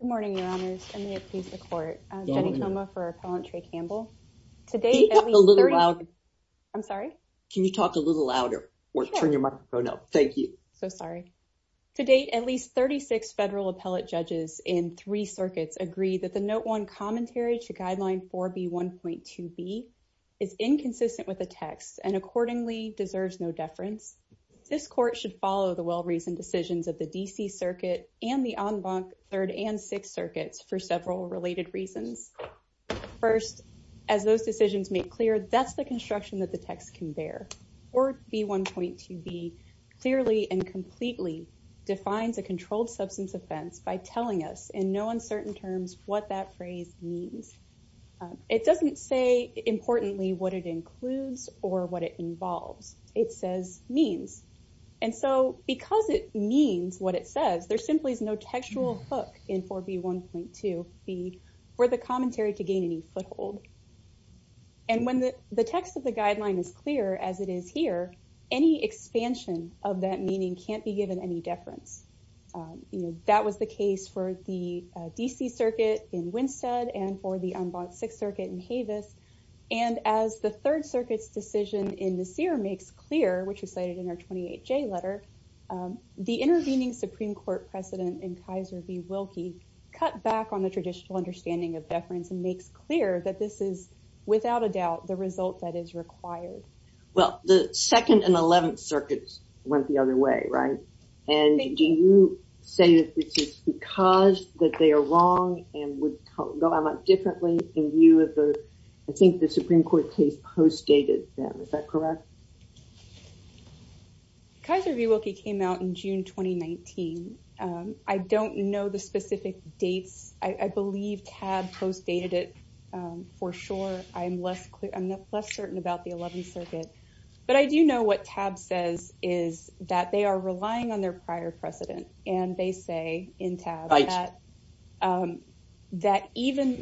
Good morning, your honors. I may appease the court. Jenny Toma for Appellant Trey Campbell. I'm sorry? Can you talk a little louder or turn your microphone up? Thank you. So sorry. To date, at least 36 federal appellate judges in three circuits agree that the Note 1 commentary to Guideline 4B1.2b is inconsistent with the text and accordingly deserves no deference. This court should follow the well-reasoned decisions of the D.C. Circuit and the En Blanc 3rd and 6th Circuits for several related reasons. First, as those decisions make clear, that's the construction that the text can bear. 4B1.2b clearly and completely defines a controlled substance offense by telling us in no uncertain terms what that phrase means. It doesn't say importantly what it includes or what it involves. It says means. And so because it means what it says, there simply is no textual hook in 4B1.2b for the commentary to gain any foothold. And when the text of the guideline is clear, as it is here, any expansion of that meaning can't be given any deference. That was the case for the D.C. Circuit in Winstead and for the En Blanc 6th in Havis. And as the 3rd Circuit's decision in Nasir makes clear, which was cited in our 28J letter, the intervening Supreme Court precedent in Kaiser v. Wilkie cut back on the traditional understanding of deference and makes clear that this is without a doubt the result that is required. Well, the 2nd and 11th Circuits went the other way, right? And do you say that this is because that they are wrong and would go about differently in view of the, I think, the Supreme Court case postdated them. Is that correct? Kaiser v. Wilkie came out in June 2019. I don't know the specific dates. I believe TAB postdated it for sure. I'm less certain about the 11th Circuit. But I do know what TAB says is that they are relying on their prior precedent. And they say in TAB that even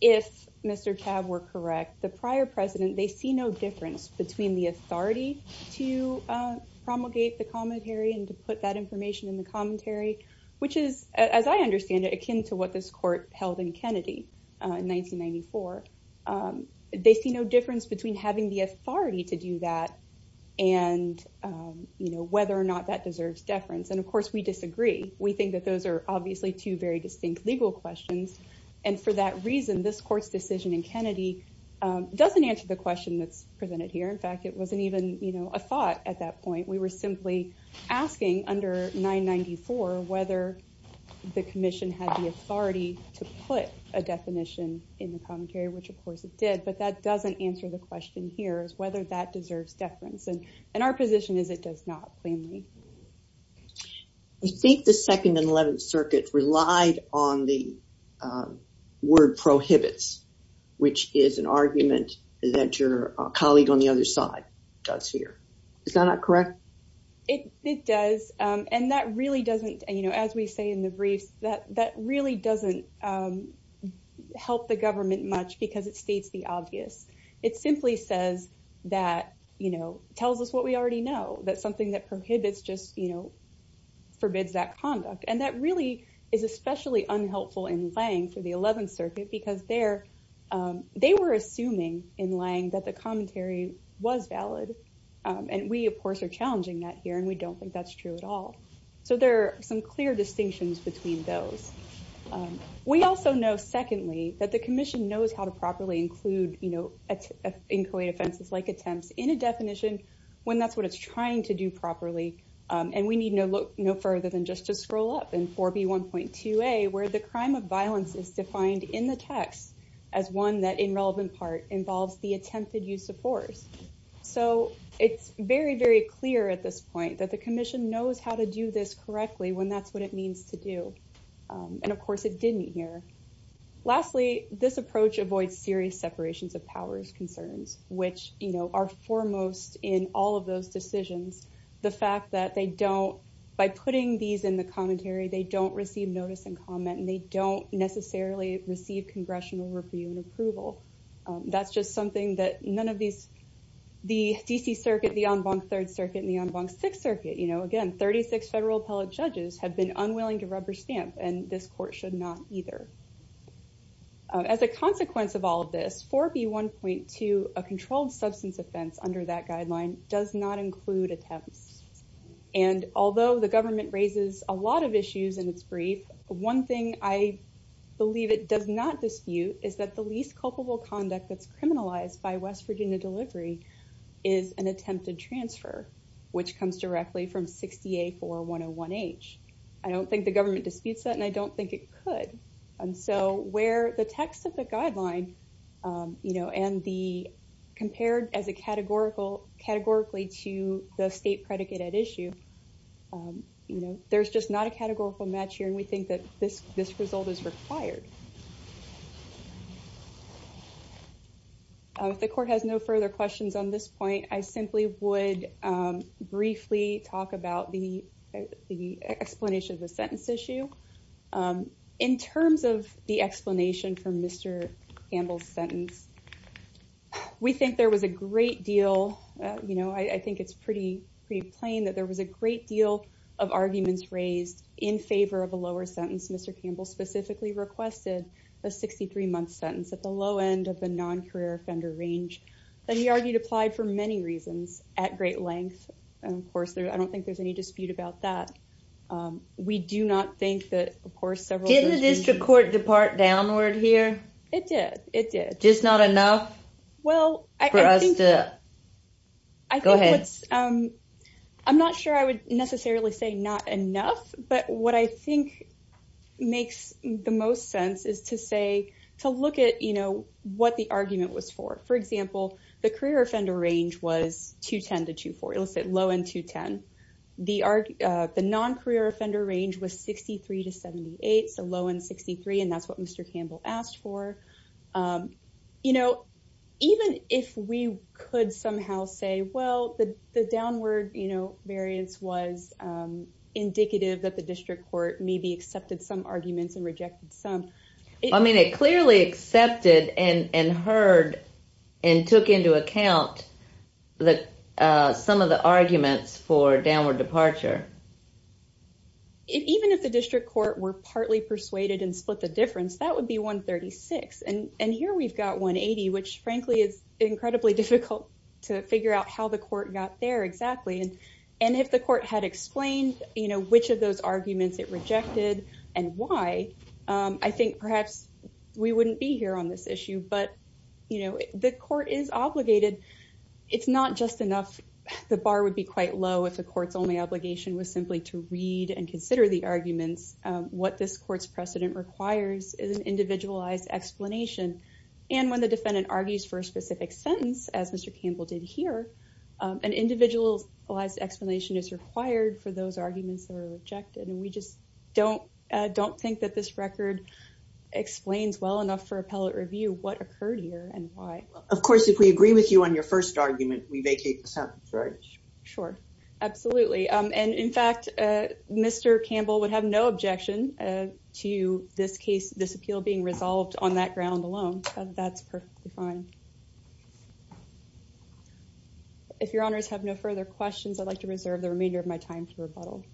if Mr. TAB were correct, the prior precedent, they see no difference between the authority to promulgate the commentary and to put that information in the commentary, which is, as I understand it, akin to what this court held in Kennedy in 1994. They see no difference between having the authority to do that and, you know, whether or not that deserves deference. And of course, we disagree. We think that those are obviously two very distinct legal questions. And for that reason, this court's decision in Kennedy doesn't answer the question that's presented here. In fact, it wasn't even, you know, a thought at that point. We were simply asking under 994 whether the commission had the authority to put a definition in the commentary, which of course it did. But that doesn't answer the question here is whether that deserves deference. And our position is it does not plainly. I think the 2nd and 11th Circuit relied on the word prohibits, which is an argument that your colleague on the other side does here. Is that not correct? It does. And that really doesn't, you know, as we say in the briefs, that really doesn't help the government much because it states the obvious. It simply says that, you know, tells us what we already know, that something that prohibits just, you know, forbids that conduct. And that really is especially unhelpful in Lange for the 11th Circuit because there, they were assuming in Lange that the commentary was valid. And we, of course, are challenging that here. And we don't think that's true at all. So there are some clear distinctions between those. We also know, secondly, that the commission knows how to properly include, you know, inquiry offenses like attempts in a definition when that's what it's trying to do properly. And we need no further than just to scroll up in 4B1.2a where the crime of violence is defined in the text as one that in relevant part involves the attempted use of force. So it's very, very clear at this point that the commission knows how to do this correctly when that's what it means to do. And of course it didn't here. Lastly, this approach avoids serious separations of powers concerns, which, you know, are foremost in all of those decisions. The fact that they don't, by putting these in the commentary, they don't receive notice and comment and they don't necessarily receive congressional review and approval. That's just something that none of these, the DC circuit, the en banc third circuit and the en banc sixth circuit, you know, again, 36 federal appellate judges have been unwilling to rubber stamp and this court should not either. As a consequence of all of this, 4B1.2, a controlled substance offense under that guideline does not include attempts. And although the government raises a lot of issues in its brief, one thing I believe it does not dispute is that the least culpable conduct that's criminalized by West Virginia delivery is an attempted transfer, which comes directly from 60A4101H. I don't think the government disputes that and I don't think it could. And so where the text of the guideline, you know, and the compared as a categorical categorically to the state predicate at issue, you know, there's just not a categorical match here. And we think that this, this result is required. The court has no further questions on this point. I simply would briefly talk about the explanation of the sentence issue in terms of the explanation for Mr. Campbell's sentence. We think there was a great deal, you know, I think it's pretty, pretty plain that there was a great deal of arguments raised in favor of a lower sentence. Mr. Campbell specifically requested a 63 month sentence at the low end of the non-career offender range that he argued applied for many reasons at great length. And of course there, I don't think there's any dispute about that. We do not think that of course several... Didn't the district court depart downward here? It did. It did. Just not enough for us to... Go ahead. I'm not sure I would necessarily say not enough, but what I think makes the most sense is to say, to look at, you know, what the argument was for. For example, the career offender range was 210 to 240. Let's say low end 210. The non-career offender range was 63 to 78. So low end 63. And that's what Mr. Campbell asked for. You know, even if we could somehow say, well, the downward, you know, variance was indicative that the district court maybe accepted some arguments and rejected some. I mean, it clearly accepted and heard and took into account that some of the arguments for downward departure. Even if the district court were partly persuaded and split the difference, that would be 136. And here we've got 180, which frankly is incredibly difficult to figure out how the court got there exactly. And if the court had explained, you know, which of those arguments it rejected and why, I think perhaps we wouldn't be here on this issue. But, you know, the court is obligated. It's not just enough. The bar would be quite low if the court's only obligation was simply to read and consider the arguments. What this court's precedent requires is an individualized explanation. And when the defendant argues for a specific sentence, as Mr. Campbell did here, an individualized explanation is required for those arguments that are rejected. And we just don't think that this record explains well enough for appellate review what occurred here and why. Of course, if we agree with you on your first argument, we vacate the sentence, right? Sure. Absolutely. And in fact, Mr. Campbell would have no objection to this case, this appeal being resolved on that ground alone. That's perfectly fine. If your honors have no further questions, I'd like to reserve the remainder of my time to rebuttal.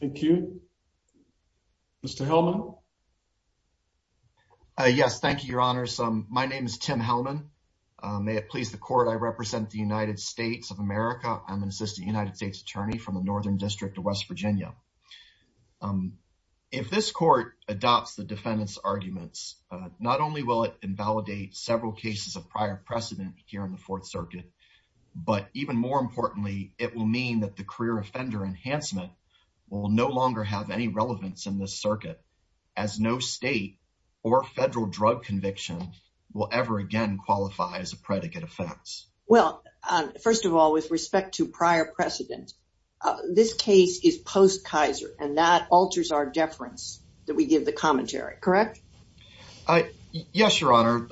Thank you. Mr. Hillman. Yes. Thank you, your honors. My name is Tim Hillman. May it please the court, I represent the United States of America. I'm an assistant United States attorney from the Northern District of West Virginia. If this court adopts the defendant's arguments, not only will it invalidate several cases of prior precedent here in the Fourth Circuit, but even more importantly, it will mean that the career offender enhancement will no longer have any relevance in this circuit. As no state or federal drug conviction will ever again qualify as a predicate offense. Well, first of all, with respect to prior precedent, this case is post Kaiser and that alters our deference that we give the commentary, correct? Yes, your honor.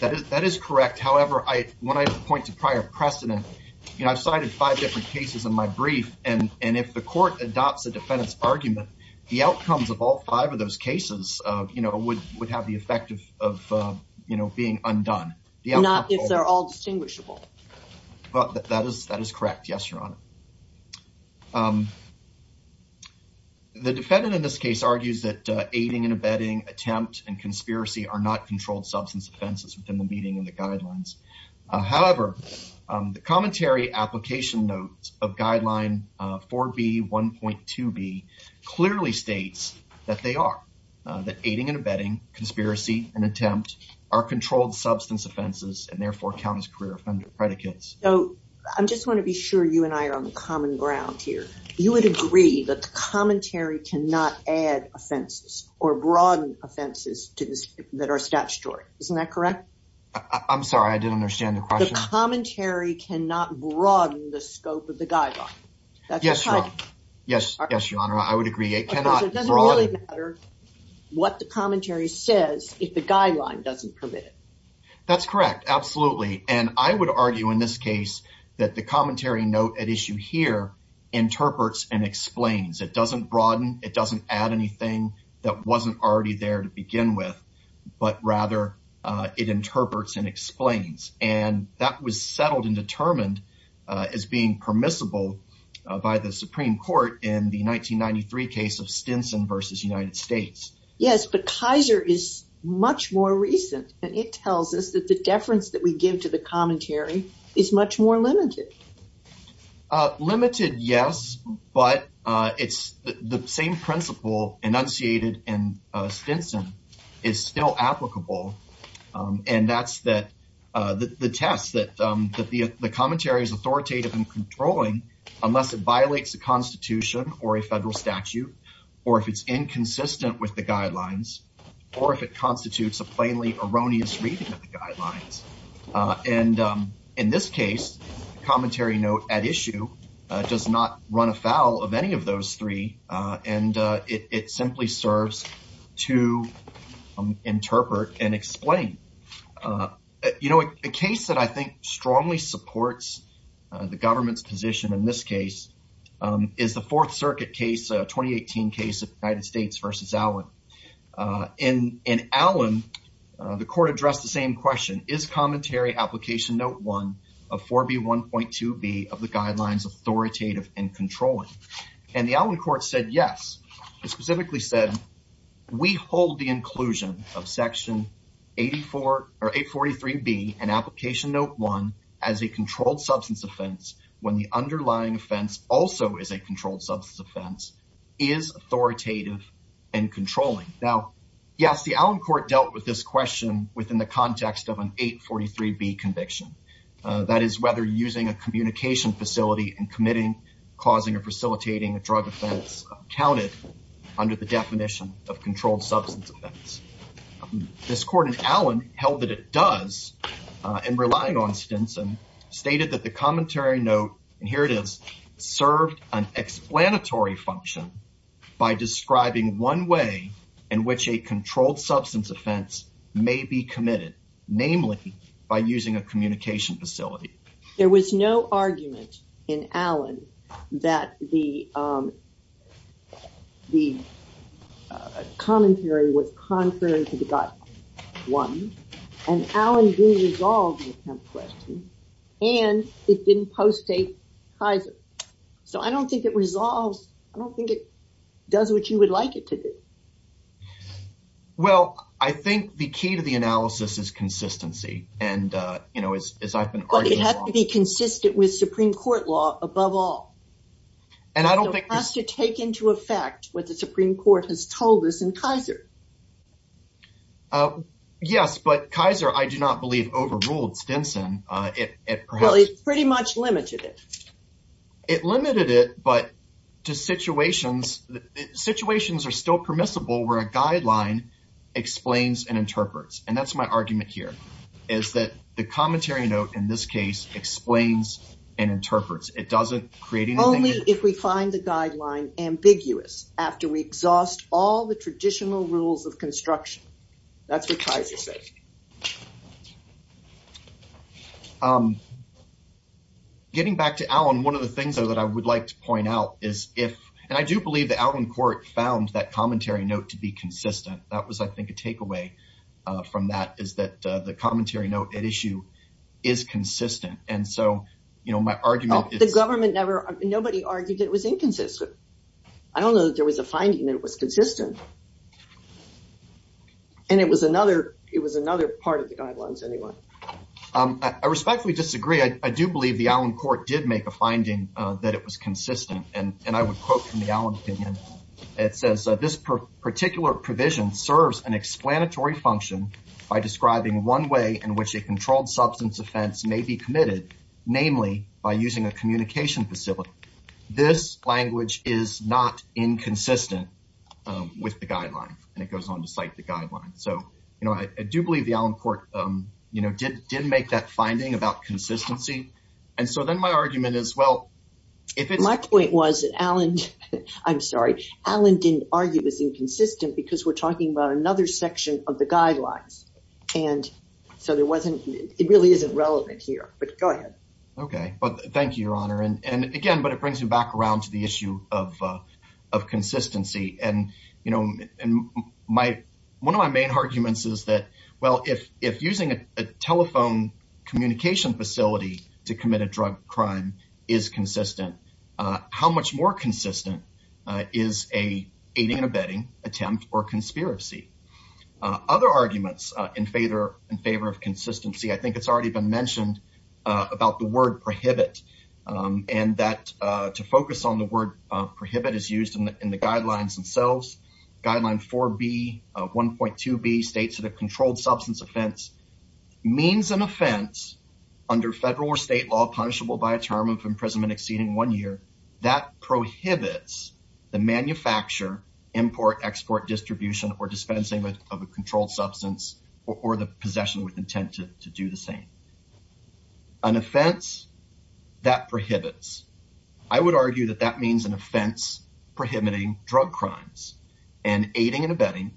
That is correct. However, when I point to prior precedent, you know, I've cited five different cases in my brief. And if the court adopts a defendant's argument, the outcomes of all five of those cases, you know, would have the effect of, you know, being undone. Not if they're all distinguishable. But that is correct. Yes, your honor. The defendant in this case argues that aiding and abetting attempt and conspiracy are not controlled substance offenses within the meeting and the guidelines. However, the commentary application notes of guideline 4B1.2B clearly states that they are that aiding and abetting conspiracy and attempt are controlled substance offenses and therefore count as career offender predicates. So I just want to be sure you and I are on common ground here. You would agree that the commentary cannot add offenses or broaden offenses that are statutory. Isn't that correct? I'm sorry. I didn't understand the question. The commentary cannot broaden the scope of the guideline. Yes, your honor. Yes. Yes, your honor. I would agree. What the commentary says if the guideline doesn't permit it. That's correct. Absolutely. And I would argue in this case that the commentary note at issue here interprets and explains. It doesn't broaden. It doesn't add anything that wasn't already there to begin with, but rather it interprets and explains. And that was settled and determined as being permissible by the Supreme Court in the 1993 case of Stinson versus United States. Yes, but Kaiser is much more recent, and it tells us that the deference that we give to the commentary is much more limited. Limited, yes, but it's the same principle enunciated in Stinson is still applicable. And that's that the test that that the commentary is authoritative and controlling unless it violates the Constitution or a federal statute, or if it's inconsistent with the guidelines, or if it constitutes a plainly erroneous reading of the guidelines. And in this case, the commentary note at issue does not run afoul of any of those three, and it simply serves to interpret and explain. You know, a case that I think strongly supports the government's position in this case is the Fourth Circuit case, a 2018 case of United States versus Allen. In Allen, the court addressed the same question, is commentary application note one of 4B1.2b of the guidelines authoritative and controlling? And the Allen court said yes. It specifically said, we hold the inclusion of section 84 or 843b and application note one as a controlled substance offense when the underlying offense also is a controlled substance offense, is authoritative and controlling. Now, yes, the Allen court dealt with this question within the context of an 843b conviction. That is whether using a communication facility and committing, causing, or facilitating a drug offense counted under the definition of controlled substance offense. This court in Allen held that it does, and relying on Stinson, stated that the function by describing one way in which a controlled substance offense may be committed, namely by using a communication facility. There was no argument in Allen that the the commentary was contrary to the guidelines one, and Allen did resolve the attempt question, and it didn't post a Kaiser. So, I don't think it resolves, I don't think it does what you would like it to do. Well, I think the key to the analysis is consistency, and you know, as I've been arguing, it has to be consistent with Supreme Court law above all, and I don't think it has to take into effect what the Supreme Court has told us in Kaiser. Yes, but Kaiser, I do not believe, overruled Stinson. It pretty much limited it. It limited it, but to situations, situations are still permissible where a guideline explains and interprets, and that's my argument here, is that the commentary note in this case explains and interprets. It doesn't create anything. Only if we find the guideline ambiguous after we exhaust all the traditional rules of construction. That's what Kaiser said. Getting back to Allen, one of the things that I would like to point out is if, and I do believe the Allen court found that commentary note to be consistent. That was, I think, a takeaway from that, is that the commentary note at issue is consistent, and so, you know, my argument... The government never, nobody argued it was inconsistent. I don't know that there was a finding that it was consistent. And it was another part of the guidelines, anyway. I respectfully disagree. I do believe the Allen court did make a finding that it was consistent, and I would quote from the Allen opinion. It says, this particular provision serves an explanatory function by describing one way in which a controlled substance offense may be committed, namely by using a communication facility. This language is not inconsistent with the guideline, and it goes on to cite the guideline. So, you know, I do believe the Allen court, you know, did make that finding about consistency, and so then my argument is, well, if it's... My point was that Allen, I'm sorry, Allen didn't argue it was inconsistent because we're talking about another section of the guidelines, and so there wasn't, it really isn't relevant here, but go ahead. Okay, but thank you, Your Honor, and again, but it brings me back around to the issue of consistency, and, you know, one of my main arguments is that, well, if using a telephone communication facility to commit a drug crime is consistent, how much more consistent is a aiding and abetting attempt or conspiracy? Other arguments in favor of consistency, I think it's already been mentioned about the word prohibit, and that to focus on the word prohibit is used in the guidelines themselves. Guideline 4B, 1.2B states that a controlled substance offense means an offense under federal or state law punishable by a term of imprisonment exceeding one year that prohibits the manufacture, import, export, distribution, or dispensing of a controlled substance or the possession with intent to do the same. An offense that prohibits, I would argue that that means an offense prohibiting drug crimes, and aiding and abetting,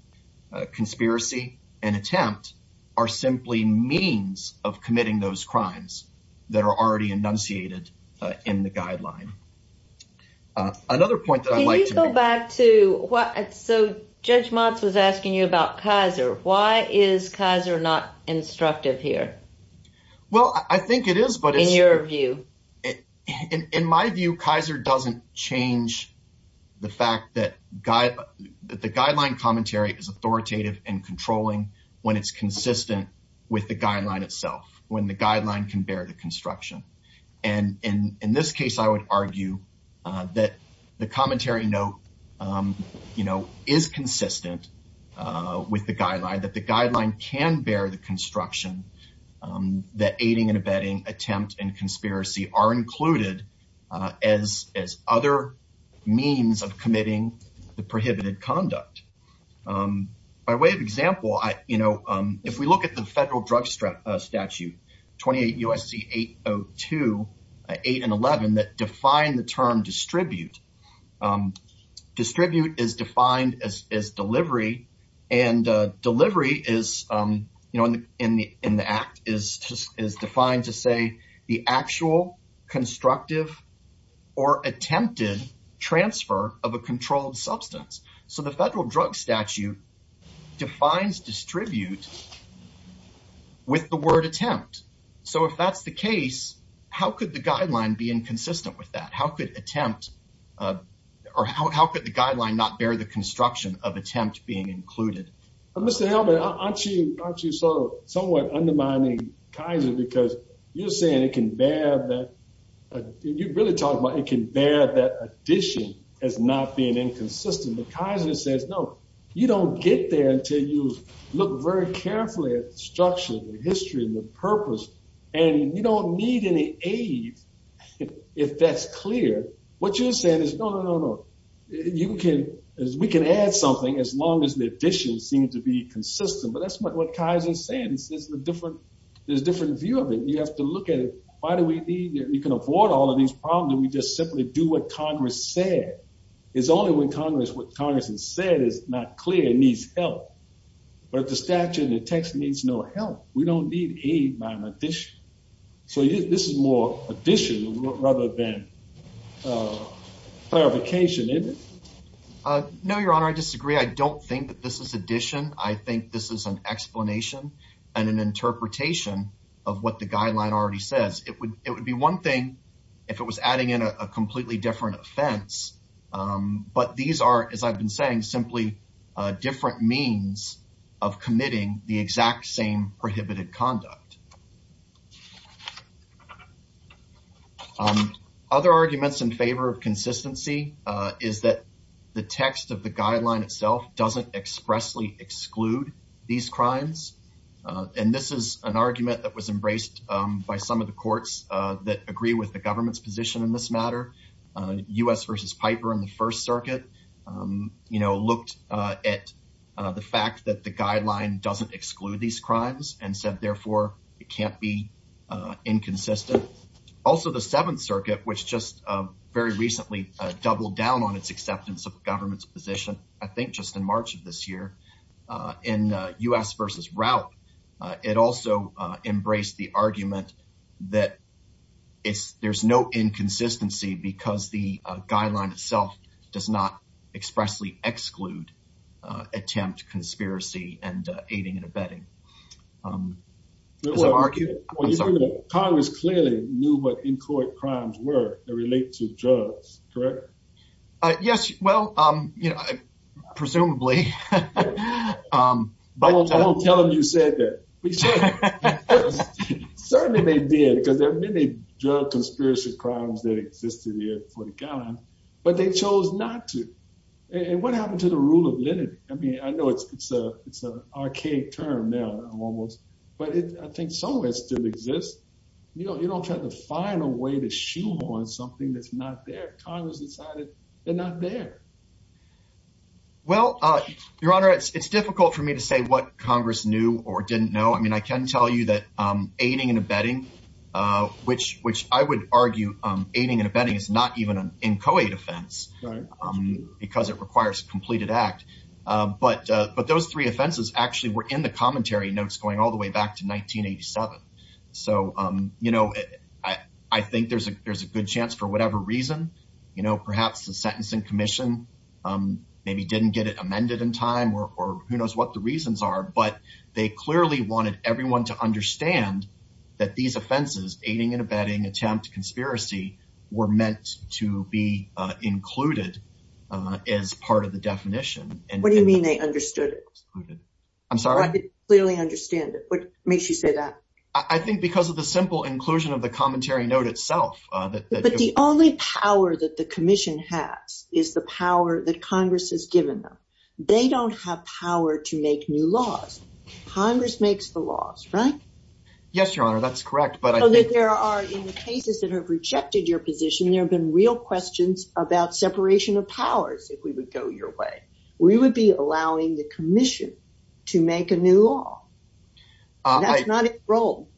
conspiracy, and attempt are simply means of committing those crimes that are already enunciated in the guideline. Another point that I'd like to make... Can you go back to what, so Judge Motz was asking you about Kaiser. Why is Kaiser not instructive here? Well, I think it is, but it's... In my view, Kaiser doesn't change the fact that the guideline commentary is authoritative and controlling when it's consistent with the guideline itself, when the guideline can bear the construction. And in this case, I would argue that the commentary note is consistent with the guideline, that the guideline can bear the construction, that aiding and abetting, attempt, and conspiracy are included as other means of committing the prohibited conduct. By way of example, if we look at the federal drug statute 28 U.S.C. 802, 8 and 11, that define the say the actual constructive or attempted transfer of a controlled substance. So the federal drug statute defines distribute with the word attempt. So if that's the case, how could the guideline be inconsistent with that? How could attempt... Or how could the guideline not bear the construction of attempt being included? Mr. Hellman, aren't you somewhat undermining Kaiser? Because you're saying it can bear that... You're really talking about it can bear that addition as not being inconsistent. But Kaiser says, no, you don't get there until you look very carefully at the structure, the history, and the purpose, and you don't need any aid if that's clear. What you're saying is, no, no, no, no. We can add something as long as the addition seems to be consistent. But that's what Kaiser is saying. It's a different... There's a different view of it. You have to look at it. Why do we need... You can avoid all of these problems if we just simply do what Congress said. It's only when Congress... What Congress has said is not clear and needs help. But the statute and the text needs no help. We don't need aid by addition. So this is more addition rather than clarification, isn't it? No, Your Honor. I disagree. I don't think that this is addition. I think this is an explanation and an interpretation of what the guideline already says. It would be one thing if it was adding in a completely different offense. But these are, as I've been saying, simply different means of committing the exact same prohibited conduct. Other arguments in favor of consistency is that the text of the guideline itself doesn't expressly exclude these crimes. And this is an argument that was embraced by some of the courts that agree with the government's position in this matter. U.S. v. Piper in the First Circuit looked at the fact that the guideline doesn't exclude these crimes and said, therefore, we're not going to exclude it. It can't be inconsistent. Also, the Seventh Circuit, which just very recently doubled down on its acceptance of the government's position, I think just in March of this year, in U.S. v. Rauch, it also embraced the argument that there's no inconsistency because the guideline itself does not expressly exclude attempt, conspiracy, and aiding and abetting. Congress clearly knew what in-court crimes were that relate to drugs, correct? Yes, well, you know, presumably. I won't tell them you said that. Certainly they did because there are many drug conspiracy crimes that existed here before the Seventh Circuit did. But Congress chose not to. And what happened to the rule of lenity? I mean, I know it's an archaic term now, almost, but I think some of it still exists. You know, you don't have the final way to shoo on something that's not there. Congress decided they're not there. Well, Your Honor, it's difficult for me to say what Congress knew or didn't know. I mean, I can tell you aiding and abetting, which I would argue aiding and abetting is not even an in-co-aid offense because it requires a completed act. But those three offenses actually were in the commentary notes going all the way back to 1987. So, you know, I think there's a good chance for whatever reason, you know, perhaps the sentencing commission maybe didn't get it amended in time or who knows what the reasons are, but they clearly wanted everyone to understand that these offenses, aiding and abetting, attempt, conspiracy, were meant to be included as part of the definition. What do you mean they understood it? I'm sorry? Clearly understand it. What makes you say that? I think because of the simple inclusion of the commentary note itself. But the only power that the commission has is the power that Congress has given them. They don't have power to make new laws. Congress makes the laws, right? Yes, Your Honor, that's correct. But I think there are in the cases that have rejected your position, there have been real questions about separation of powers. If we would go your way, we would be allowing the commission to make a new law. That's not its role.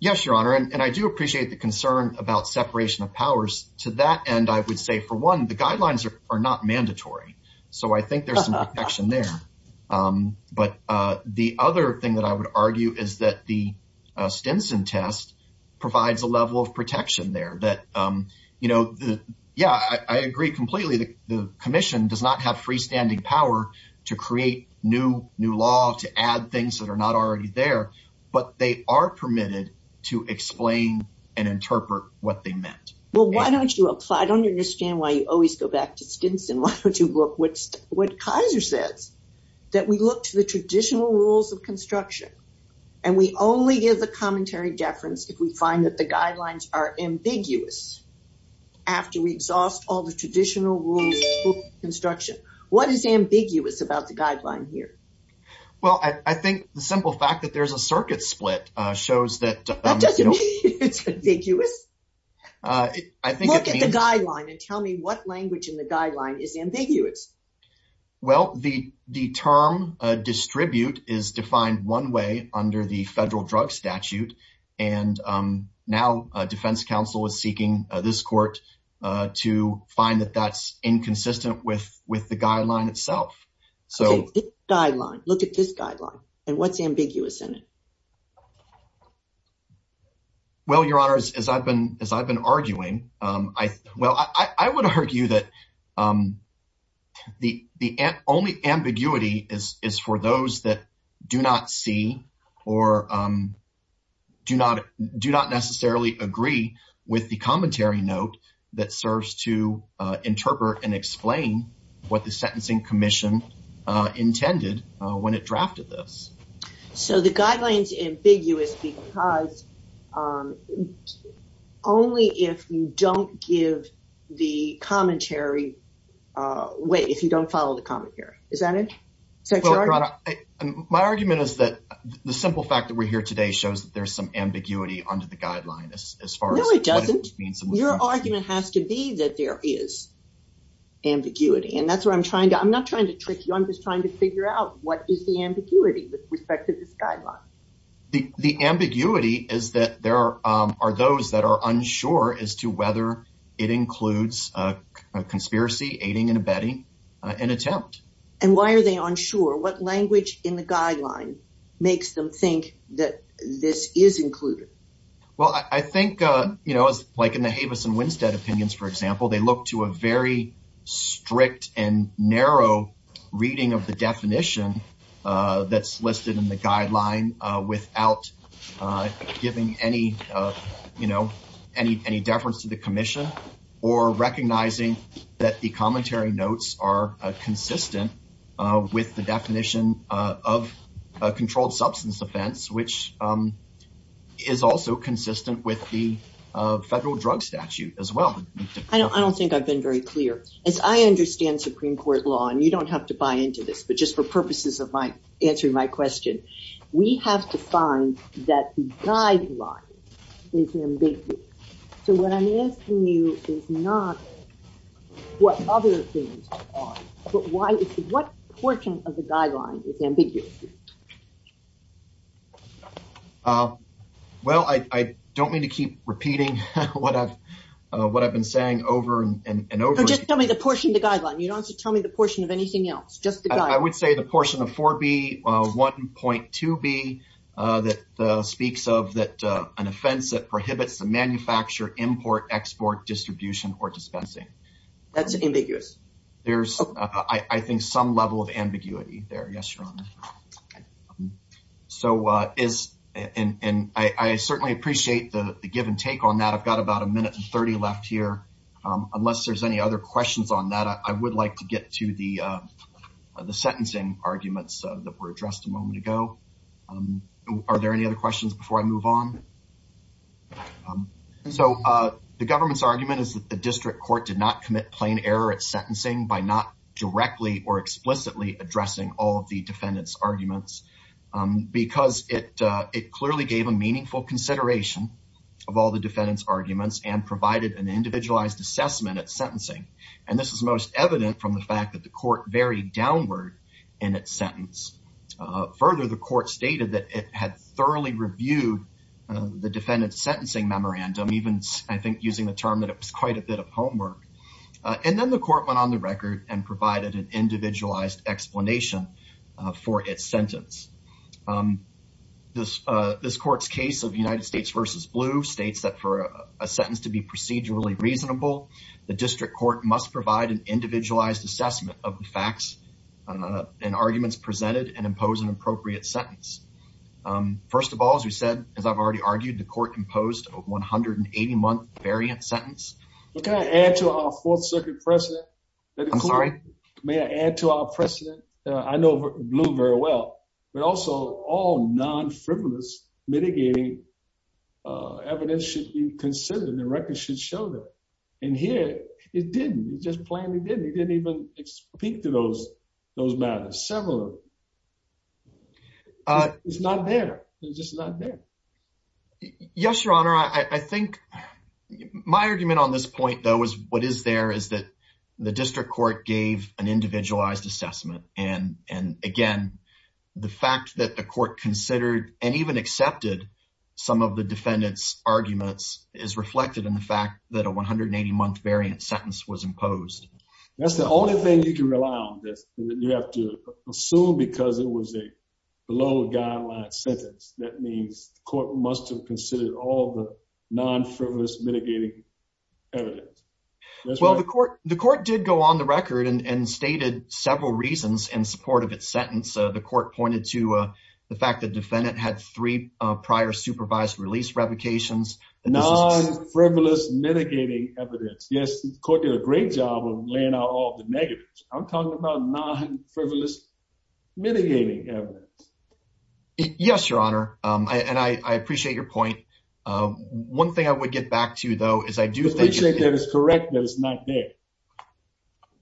Yes, Your Honor. And I do appreciate the concern about separation of powers. To that end, for one, the guidelines are not mandatory. So I think there's some protection there. But the other thing that I would argue is that the Stinson test provides a level of protection there. I agree completely. The commission does not have freestanding power to create new law, to add things that are not already there, but they are permitted to explain and interpret what they meant. Well, why don't you apply? I don't understand why you always go back to Stinson. Why don't you look at what Kaiser says, that we look to the traditional rules of construction and we only give the commentary deference if we find that the guidelines are ambiguous after we exhaust all the traditional rules of construction. What is ambiguous about the guideline here? Well, I think the simple fact that there's a circuit split shows that... It's ambiguous? Look at the guideline and tell me what language in the guideline is ambiguous. Well, the term distribute is defined one way under the federal drug statute. And now defense counsel is seeking this court to find that that's inconsistent with the guideline itself. This guideline, look at this guideline and what's ambiguous in it? Well, your honors, as I've been arguing, I would argue that the only ambiguity is for those that do not see or do not necessarily agree with the commentary note that serves to interpret and explain what the sentencing commission intended when it drafted this. So the guidelines ambiguous because only if you don't give the commentary... Wait, if you don't follow the commentary, is that it? Is that your argument? My argument is that the simple fact that we're here today shows that there's some ambiguity under the guideline as far as... No, it doesn't. Your argument has to be that there is ambiguity. And that's what I'm trying to... I'm not trying to trick you. I'm just trying to figure out what is the ambiguity with respect to this guideline? The ambiguity is that there are those that are unsure as to whether it includes a conspiracy, aiding and abetting an attempt. And why are they unsure? What language in the guideline makes them think that this is included? Well, I think like in the Havis and Winstead opinions, for example, they look to a very strict and narrow reading of the definition that's listed in the guideline without giving any deference to the commission or recognizing that the commentary substance offense, which is also consistent with the federal drug statute as well. I don't think I've been very clear. As I understand Supreme Court law, and you don't have to buy into this, but just for purposes of my answering my question, we have to find that the guideline is ambiguous. So what I'm asking you is not what other things are, but what portion of the guideline is ambiguous? Well, I don't mean to keep repeating what I've been saying over and over. Just tell me the portion of the guideline. You don't have to tell me the portion of anything else. Just the guideline. I would say the portion of 4B, 1.2B, that speaks of an offense that prohibits the manufacture, import, export, distribution, or dispensing. That's ambiguous. There's, I think, some level of ambiguity there. Yes, Your Honor. So is, and I certainly appreciate the give and take on that. I've got about a minute and 30 left here. Unless there's any other questions on that, I would like to get to the sentencing arguments that were addressed a moment ago. Are there any other questions before I move on? So the government's argument is that the district court did not commit plain error at sentencing by not directly or explicitly addressing all of the defendant's arguments because it clearly gave a meaningful consideration of all the defendant's arguments and provided an individualized assessment at sentencing. And this is most evident from the fact that the court varied downward in its sentence. Further, the court stated that it had thoroughly reviewed the defendant's sentencing memorandum, even, I think, using the term that it was quite a bit of homework. And then the court went on the record and provided an individualized explanation for its sentence. This court's case of United States versus Blue states that for a sentence to be procedurally reasonable, the district court must provide an individualized assessment of the arguments presented and impose an appropriate sentence. First of all, as we said, as I've already argued, the court imposed a 180-month variant sentence. But can I add to our Fourth Circuit precedent? I'm sorry? May I add to our precedent? I know Blue very well, but also all non-frivolous mitigating evidence should be considered and the record should show that. And here, it didn't. It just plainly didn't. It didn't even speak to those matters, several of them. It's not there. It's just not there. Yes, Your Honor. I think my argument on this point, though, is what is there is that the district court gave an individualized assessment. And again, the fact that the court considered and even accepted some of the defendant's arguments is reflected in the fact that a 180-month variant sentence was imposed. That's the only thing you can rely on this. You have to assume because it was a low guideline sentence. That means the court must have considered all the non-frivolous mitigating evidence. Well, the court did go on the record and stated several reasons in support of its sentence. The court pointed to the fact that defendant had three prior supervised release revocations. Non-frivolous mitigating evidence. Yes, the court did a great job of laying out all the negatives. I'm talking about non-frivolous mitigating evidence. Yes, Your Honor. And I appreciate your point. One thing I would get back to, though, is I do think that it's correct that it's not there.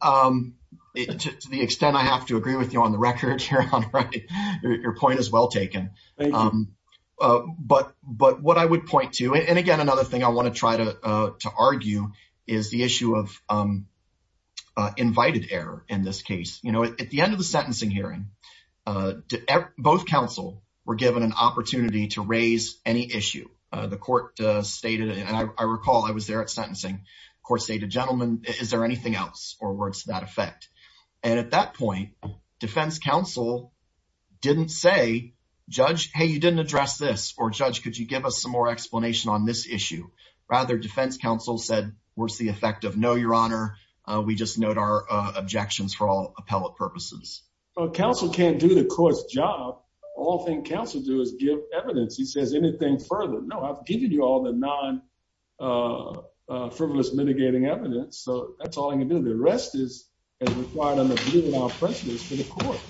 To the extent I have to agree with you on the record, Your Honor, your point is well taken. But what I would point to, and again, another thing I want to try to argue is the issue of invited error in this case. At the end of the sentencing hearing, both counsel were given an opportunity to raise any issue. The court stated, and I recall I was there at sentencing, the court stated, gentlemen, is there anything else or words to that effect? And at that point, defense counsel didn't say, judge, hey, you didn't address this. Or judge, could you give us some more explanation on this issue? Rather, defense counsel said, what's the effect of no, Your Honor? We just note our objections for all appellate purposes. Well, counsel can't do the court's job. All thing counsel do is give evidence. He says anything further. No, I've given you all the non-frivolous mitigating evidence. So that's all I can do. The rest is required under blue without prejudice for the court.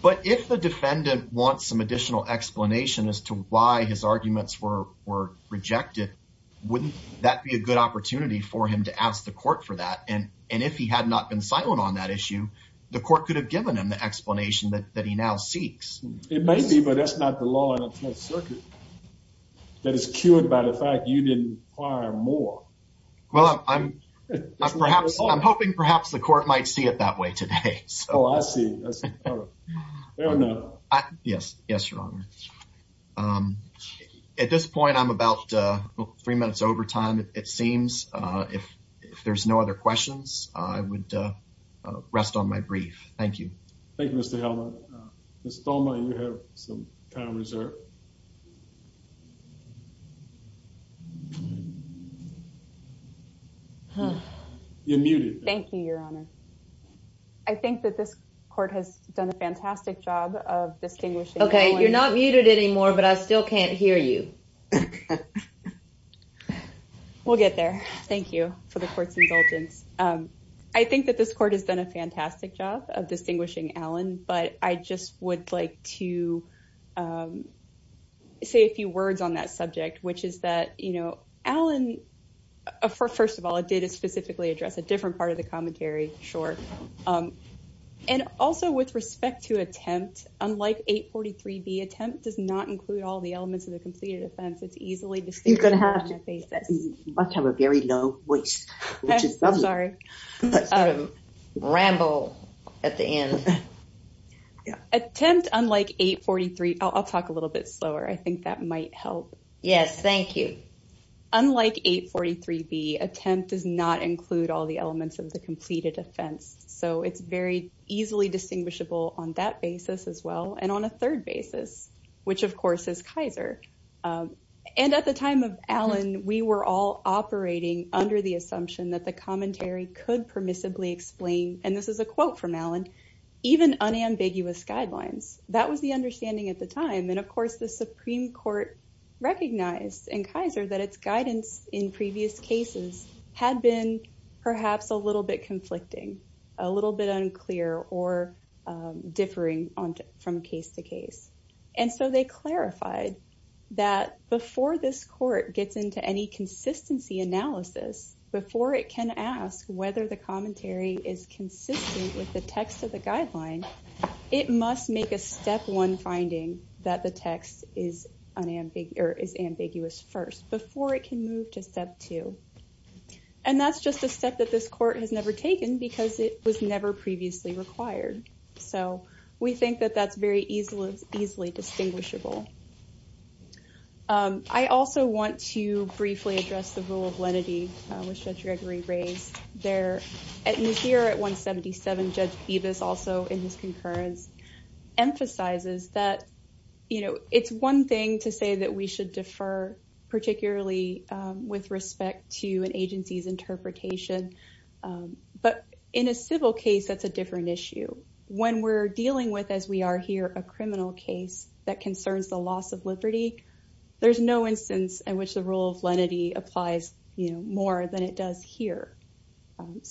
But if the defendant wants some additional explanation as to why his arguments were rejected, wouldn't that be a good opportunity for him to ask the court for that? And if he had not been silent on that issue, the court could have given him the explanation that he now seeks. It may be, but that's not the law in the Fifth Circuit that is cued by the fact you didn't require more. Well, I'm hoping perhaps the court might see it that way today. Oh, I see. Yes, Your Honor. At this point, I'm about three minutes over time, it seems. If there's no other questions, I would rest on my brief. Thank you. Thank you, Mr. Hellman. Mr. Thoma, you have some time reserved. You're muted. Thank you, Your Honor. I think that this court has done a fantastic job of distinguishing Allen. Okay, you're not muted anymore, but I still can't hear you. We'll get there. Thank you for the court's indulgence. I think that this court has done a fantastic job of distinguishing Allen, but I just would like to say a few words on that subject, which is that Allen, first of all, it did specifically address a different part of the commentary, sure. Also, with respect to attempt, unlike 843B, attempt does not include all the elements of the completed offense. It's easily distinguished on that basis. You must have a very low voice, which is lovely. I'm sorry. Ramble at the end. Attempt, unlike 843, I'll talk a little bit slower. I think that might help. Yes, thank you. Unlike 843B, attempt does not include all the elements of the completed offense, so it's very easily distinguishable on that basis as well, and on a third basis, which of course is Kaiser. At the time of Allen, we were all operating under the assumption that the commentary could permissibly explain, and this is a quote from Allen, even unambiguous guidelines. That was the understanding at the time, and of course, the Supreme Court recognized in Kaiser that its guidance in previous cases had been perhaps a little bit conflicting, a little bit unclear, or differing from case to case. They clarified that before this court gets into any consistency analysis, before it can ask whether the commentary is consistent with the text of guideline, it must make a step one finding that the text is ambiguous first, before it can move to step two. That's just a step that this court has never taken because it was never previously required. We think that that's very easily distinguishable. I also want to briefly address the rule of lenity, which Judge Gregory raised there. Here at 177, Judge Bevis, also in his concurrence, emphasizes that it's one thing to say that we should defer, particularly with respect to an agency's interpretation, but in a civil case, that's a different issue. When we're dealing with, as we are here, a criminal case that concerns the loss of liberty, there's no instance in which the more than it does here.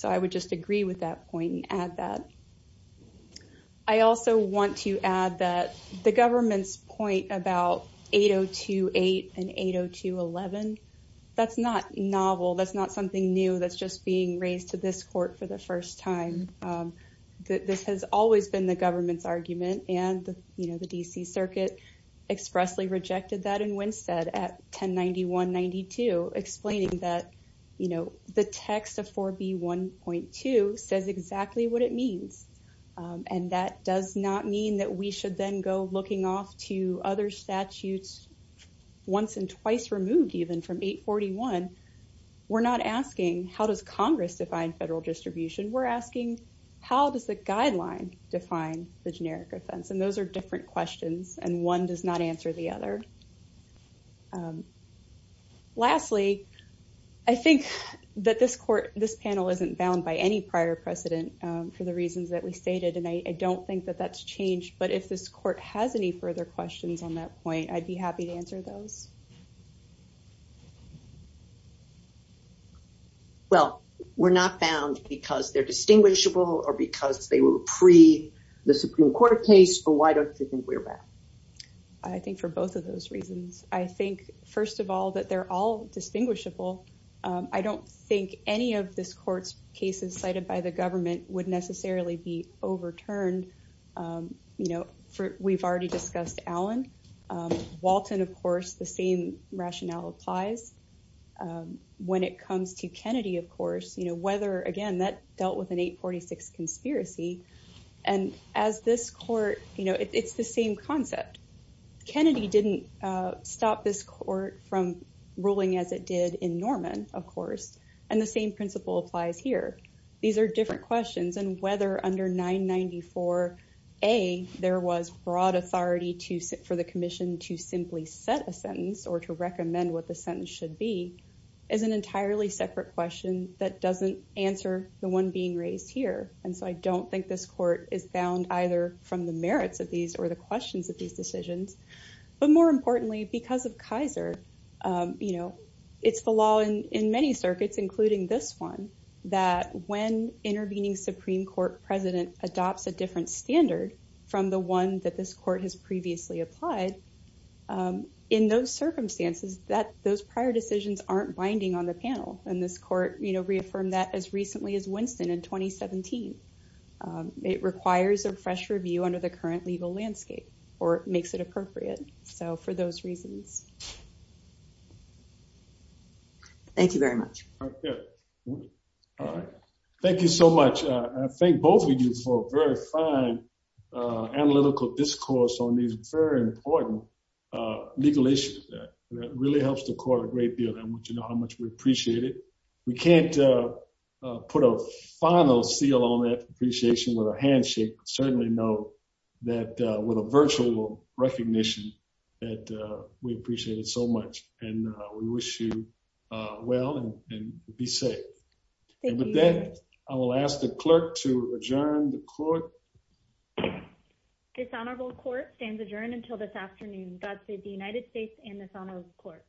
I would just agree with that point and add that. I also want to add that the government's point about 802.8 and 802.11, that's not novel. That's not something new. That's just being raised to this court for the first time. This has always been the government's argument, and the D.C. Circuit expressly rejected that in Winstead at that point. The text of 4B.1.2 says exactly what it means. That does not mean that we should then go looking off to other statutes once and twice removed even from 841. We're not asking, how does Congress define federal distribution? We're asking, how does the guideline define the generic offense? Those are different questions, and one does not answer the other. Lastly, I think that this panel isn't bound by any prior precedent for the reasons that we stated, and I don't think that that's changed, but if this court has any further questions on that point, I'd be happy to answer those. Well, we're not bound because they're distinguishable or because they were pre-the Supreme Court case, but why don't you think we're bound? I think for both of those reasons. I think, first of all, that they're all distinguishable. I don't think any of this court's cases cited by the government would necessarily be overturned. We've already discussed Allen. Walton, of course, the same rationale applies. When it comes to Kennedy, of course, whether, again, that dealt with an 846 conspiracy, and as this court, it's the same concept. Kennedy didn't stop this court from ruling as it did in Norman, of course, and the same principle applies here. These are different questions, and whether under 994A there was broad authority for the commission to simply set a sentence or to recommend what the sentence should be is an entirely separate question that doesn't answer the one being raised here. I don't think this court is bound either from the merits of these or the questions of these decisions. More importantly, because of Kaiser, it's the law in many circuits, including this one, that when intervening Supreme Court president adopts a different standard from the one that this court has previously applied, in those circumstances, those prior decisions aren't binding on the panel. This court reaffirmed that as recently as Winston in 2017. It requires a fresh review under the current legal landscape or makes it appropriate, so for those reasons. Thank you very much. All right. Thank you so much. I thank both of you for a very fine analytical discourse on these very important legal issues. That really helps the court a great deal, and I want you to know how much we appreciate it. We can't put a final seal on that appreciation with a handshake, but certainly know that with a virtual recognition that we appreciate it so much, and we wish you well and be safe. And with that, I will ask the clerk to adjourn the court. Dishonorable court stands adjourned until this afternoon. God save the United States and dishonorable court.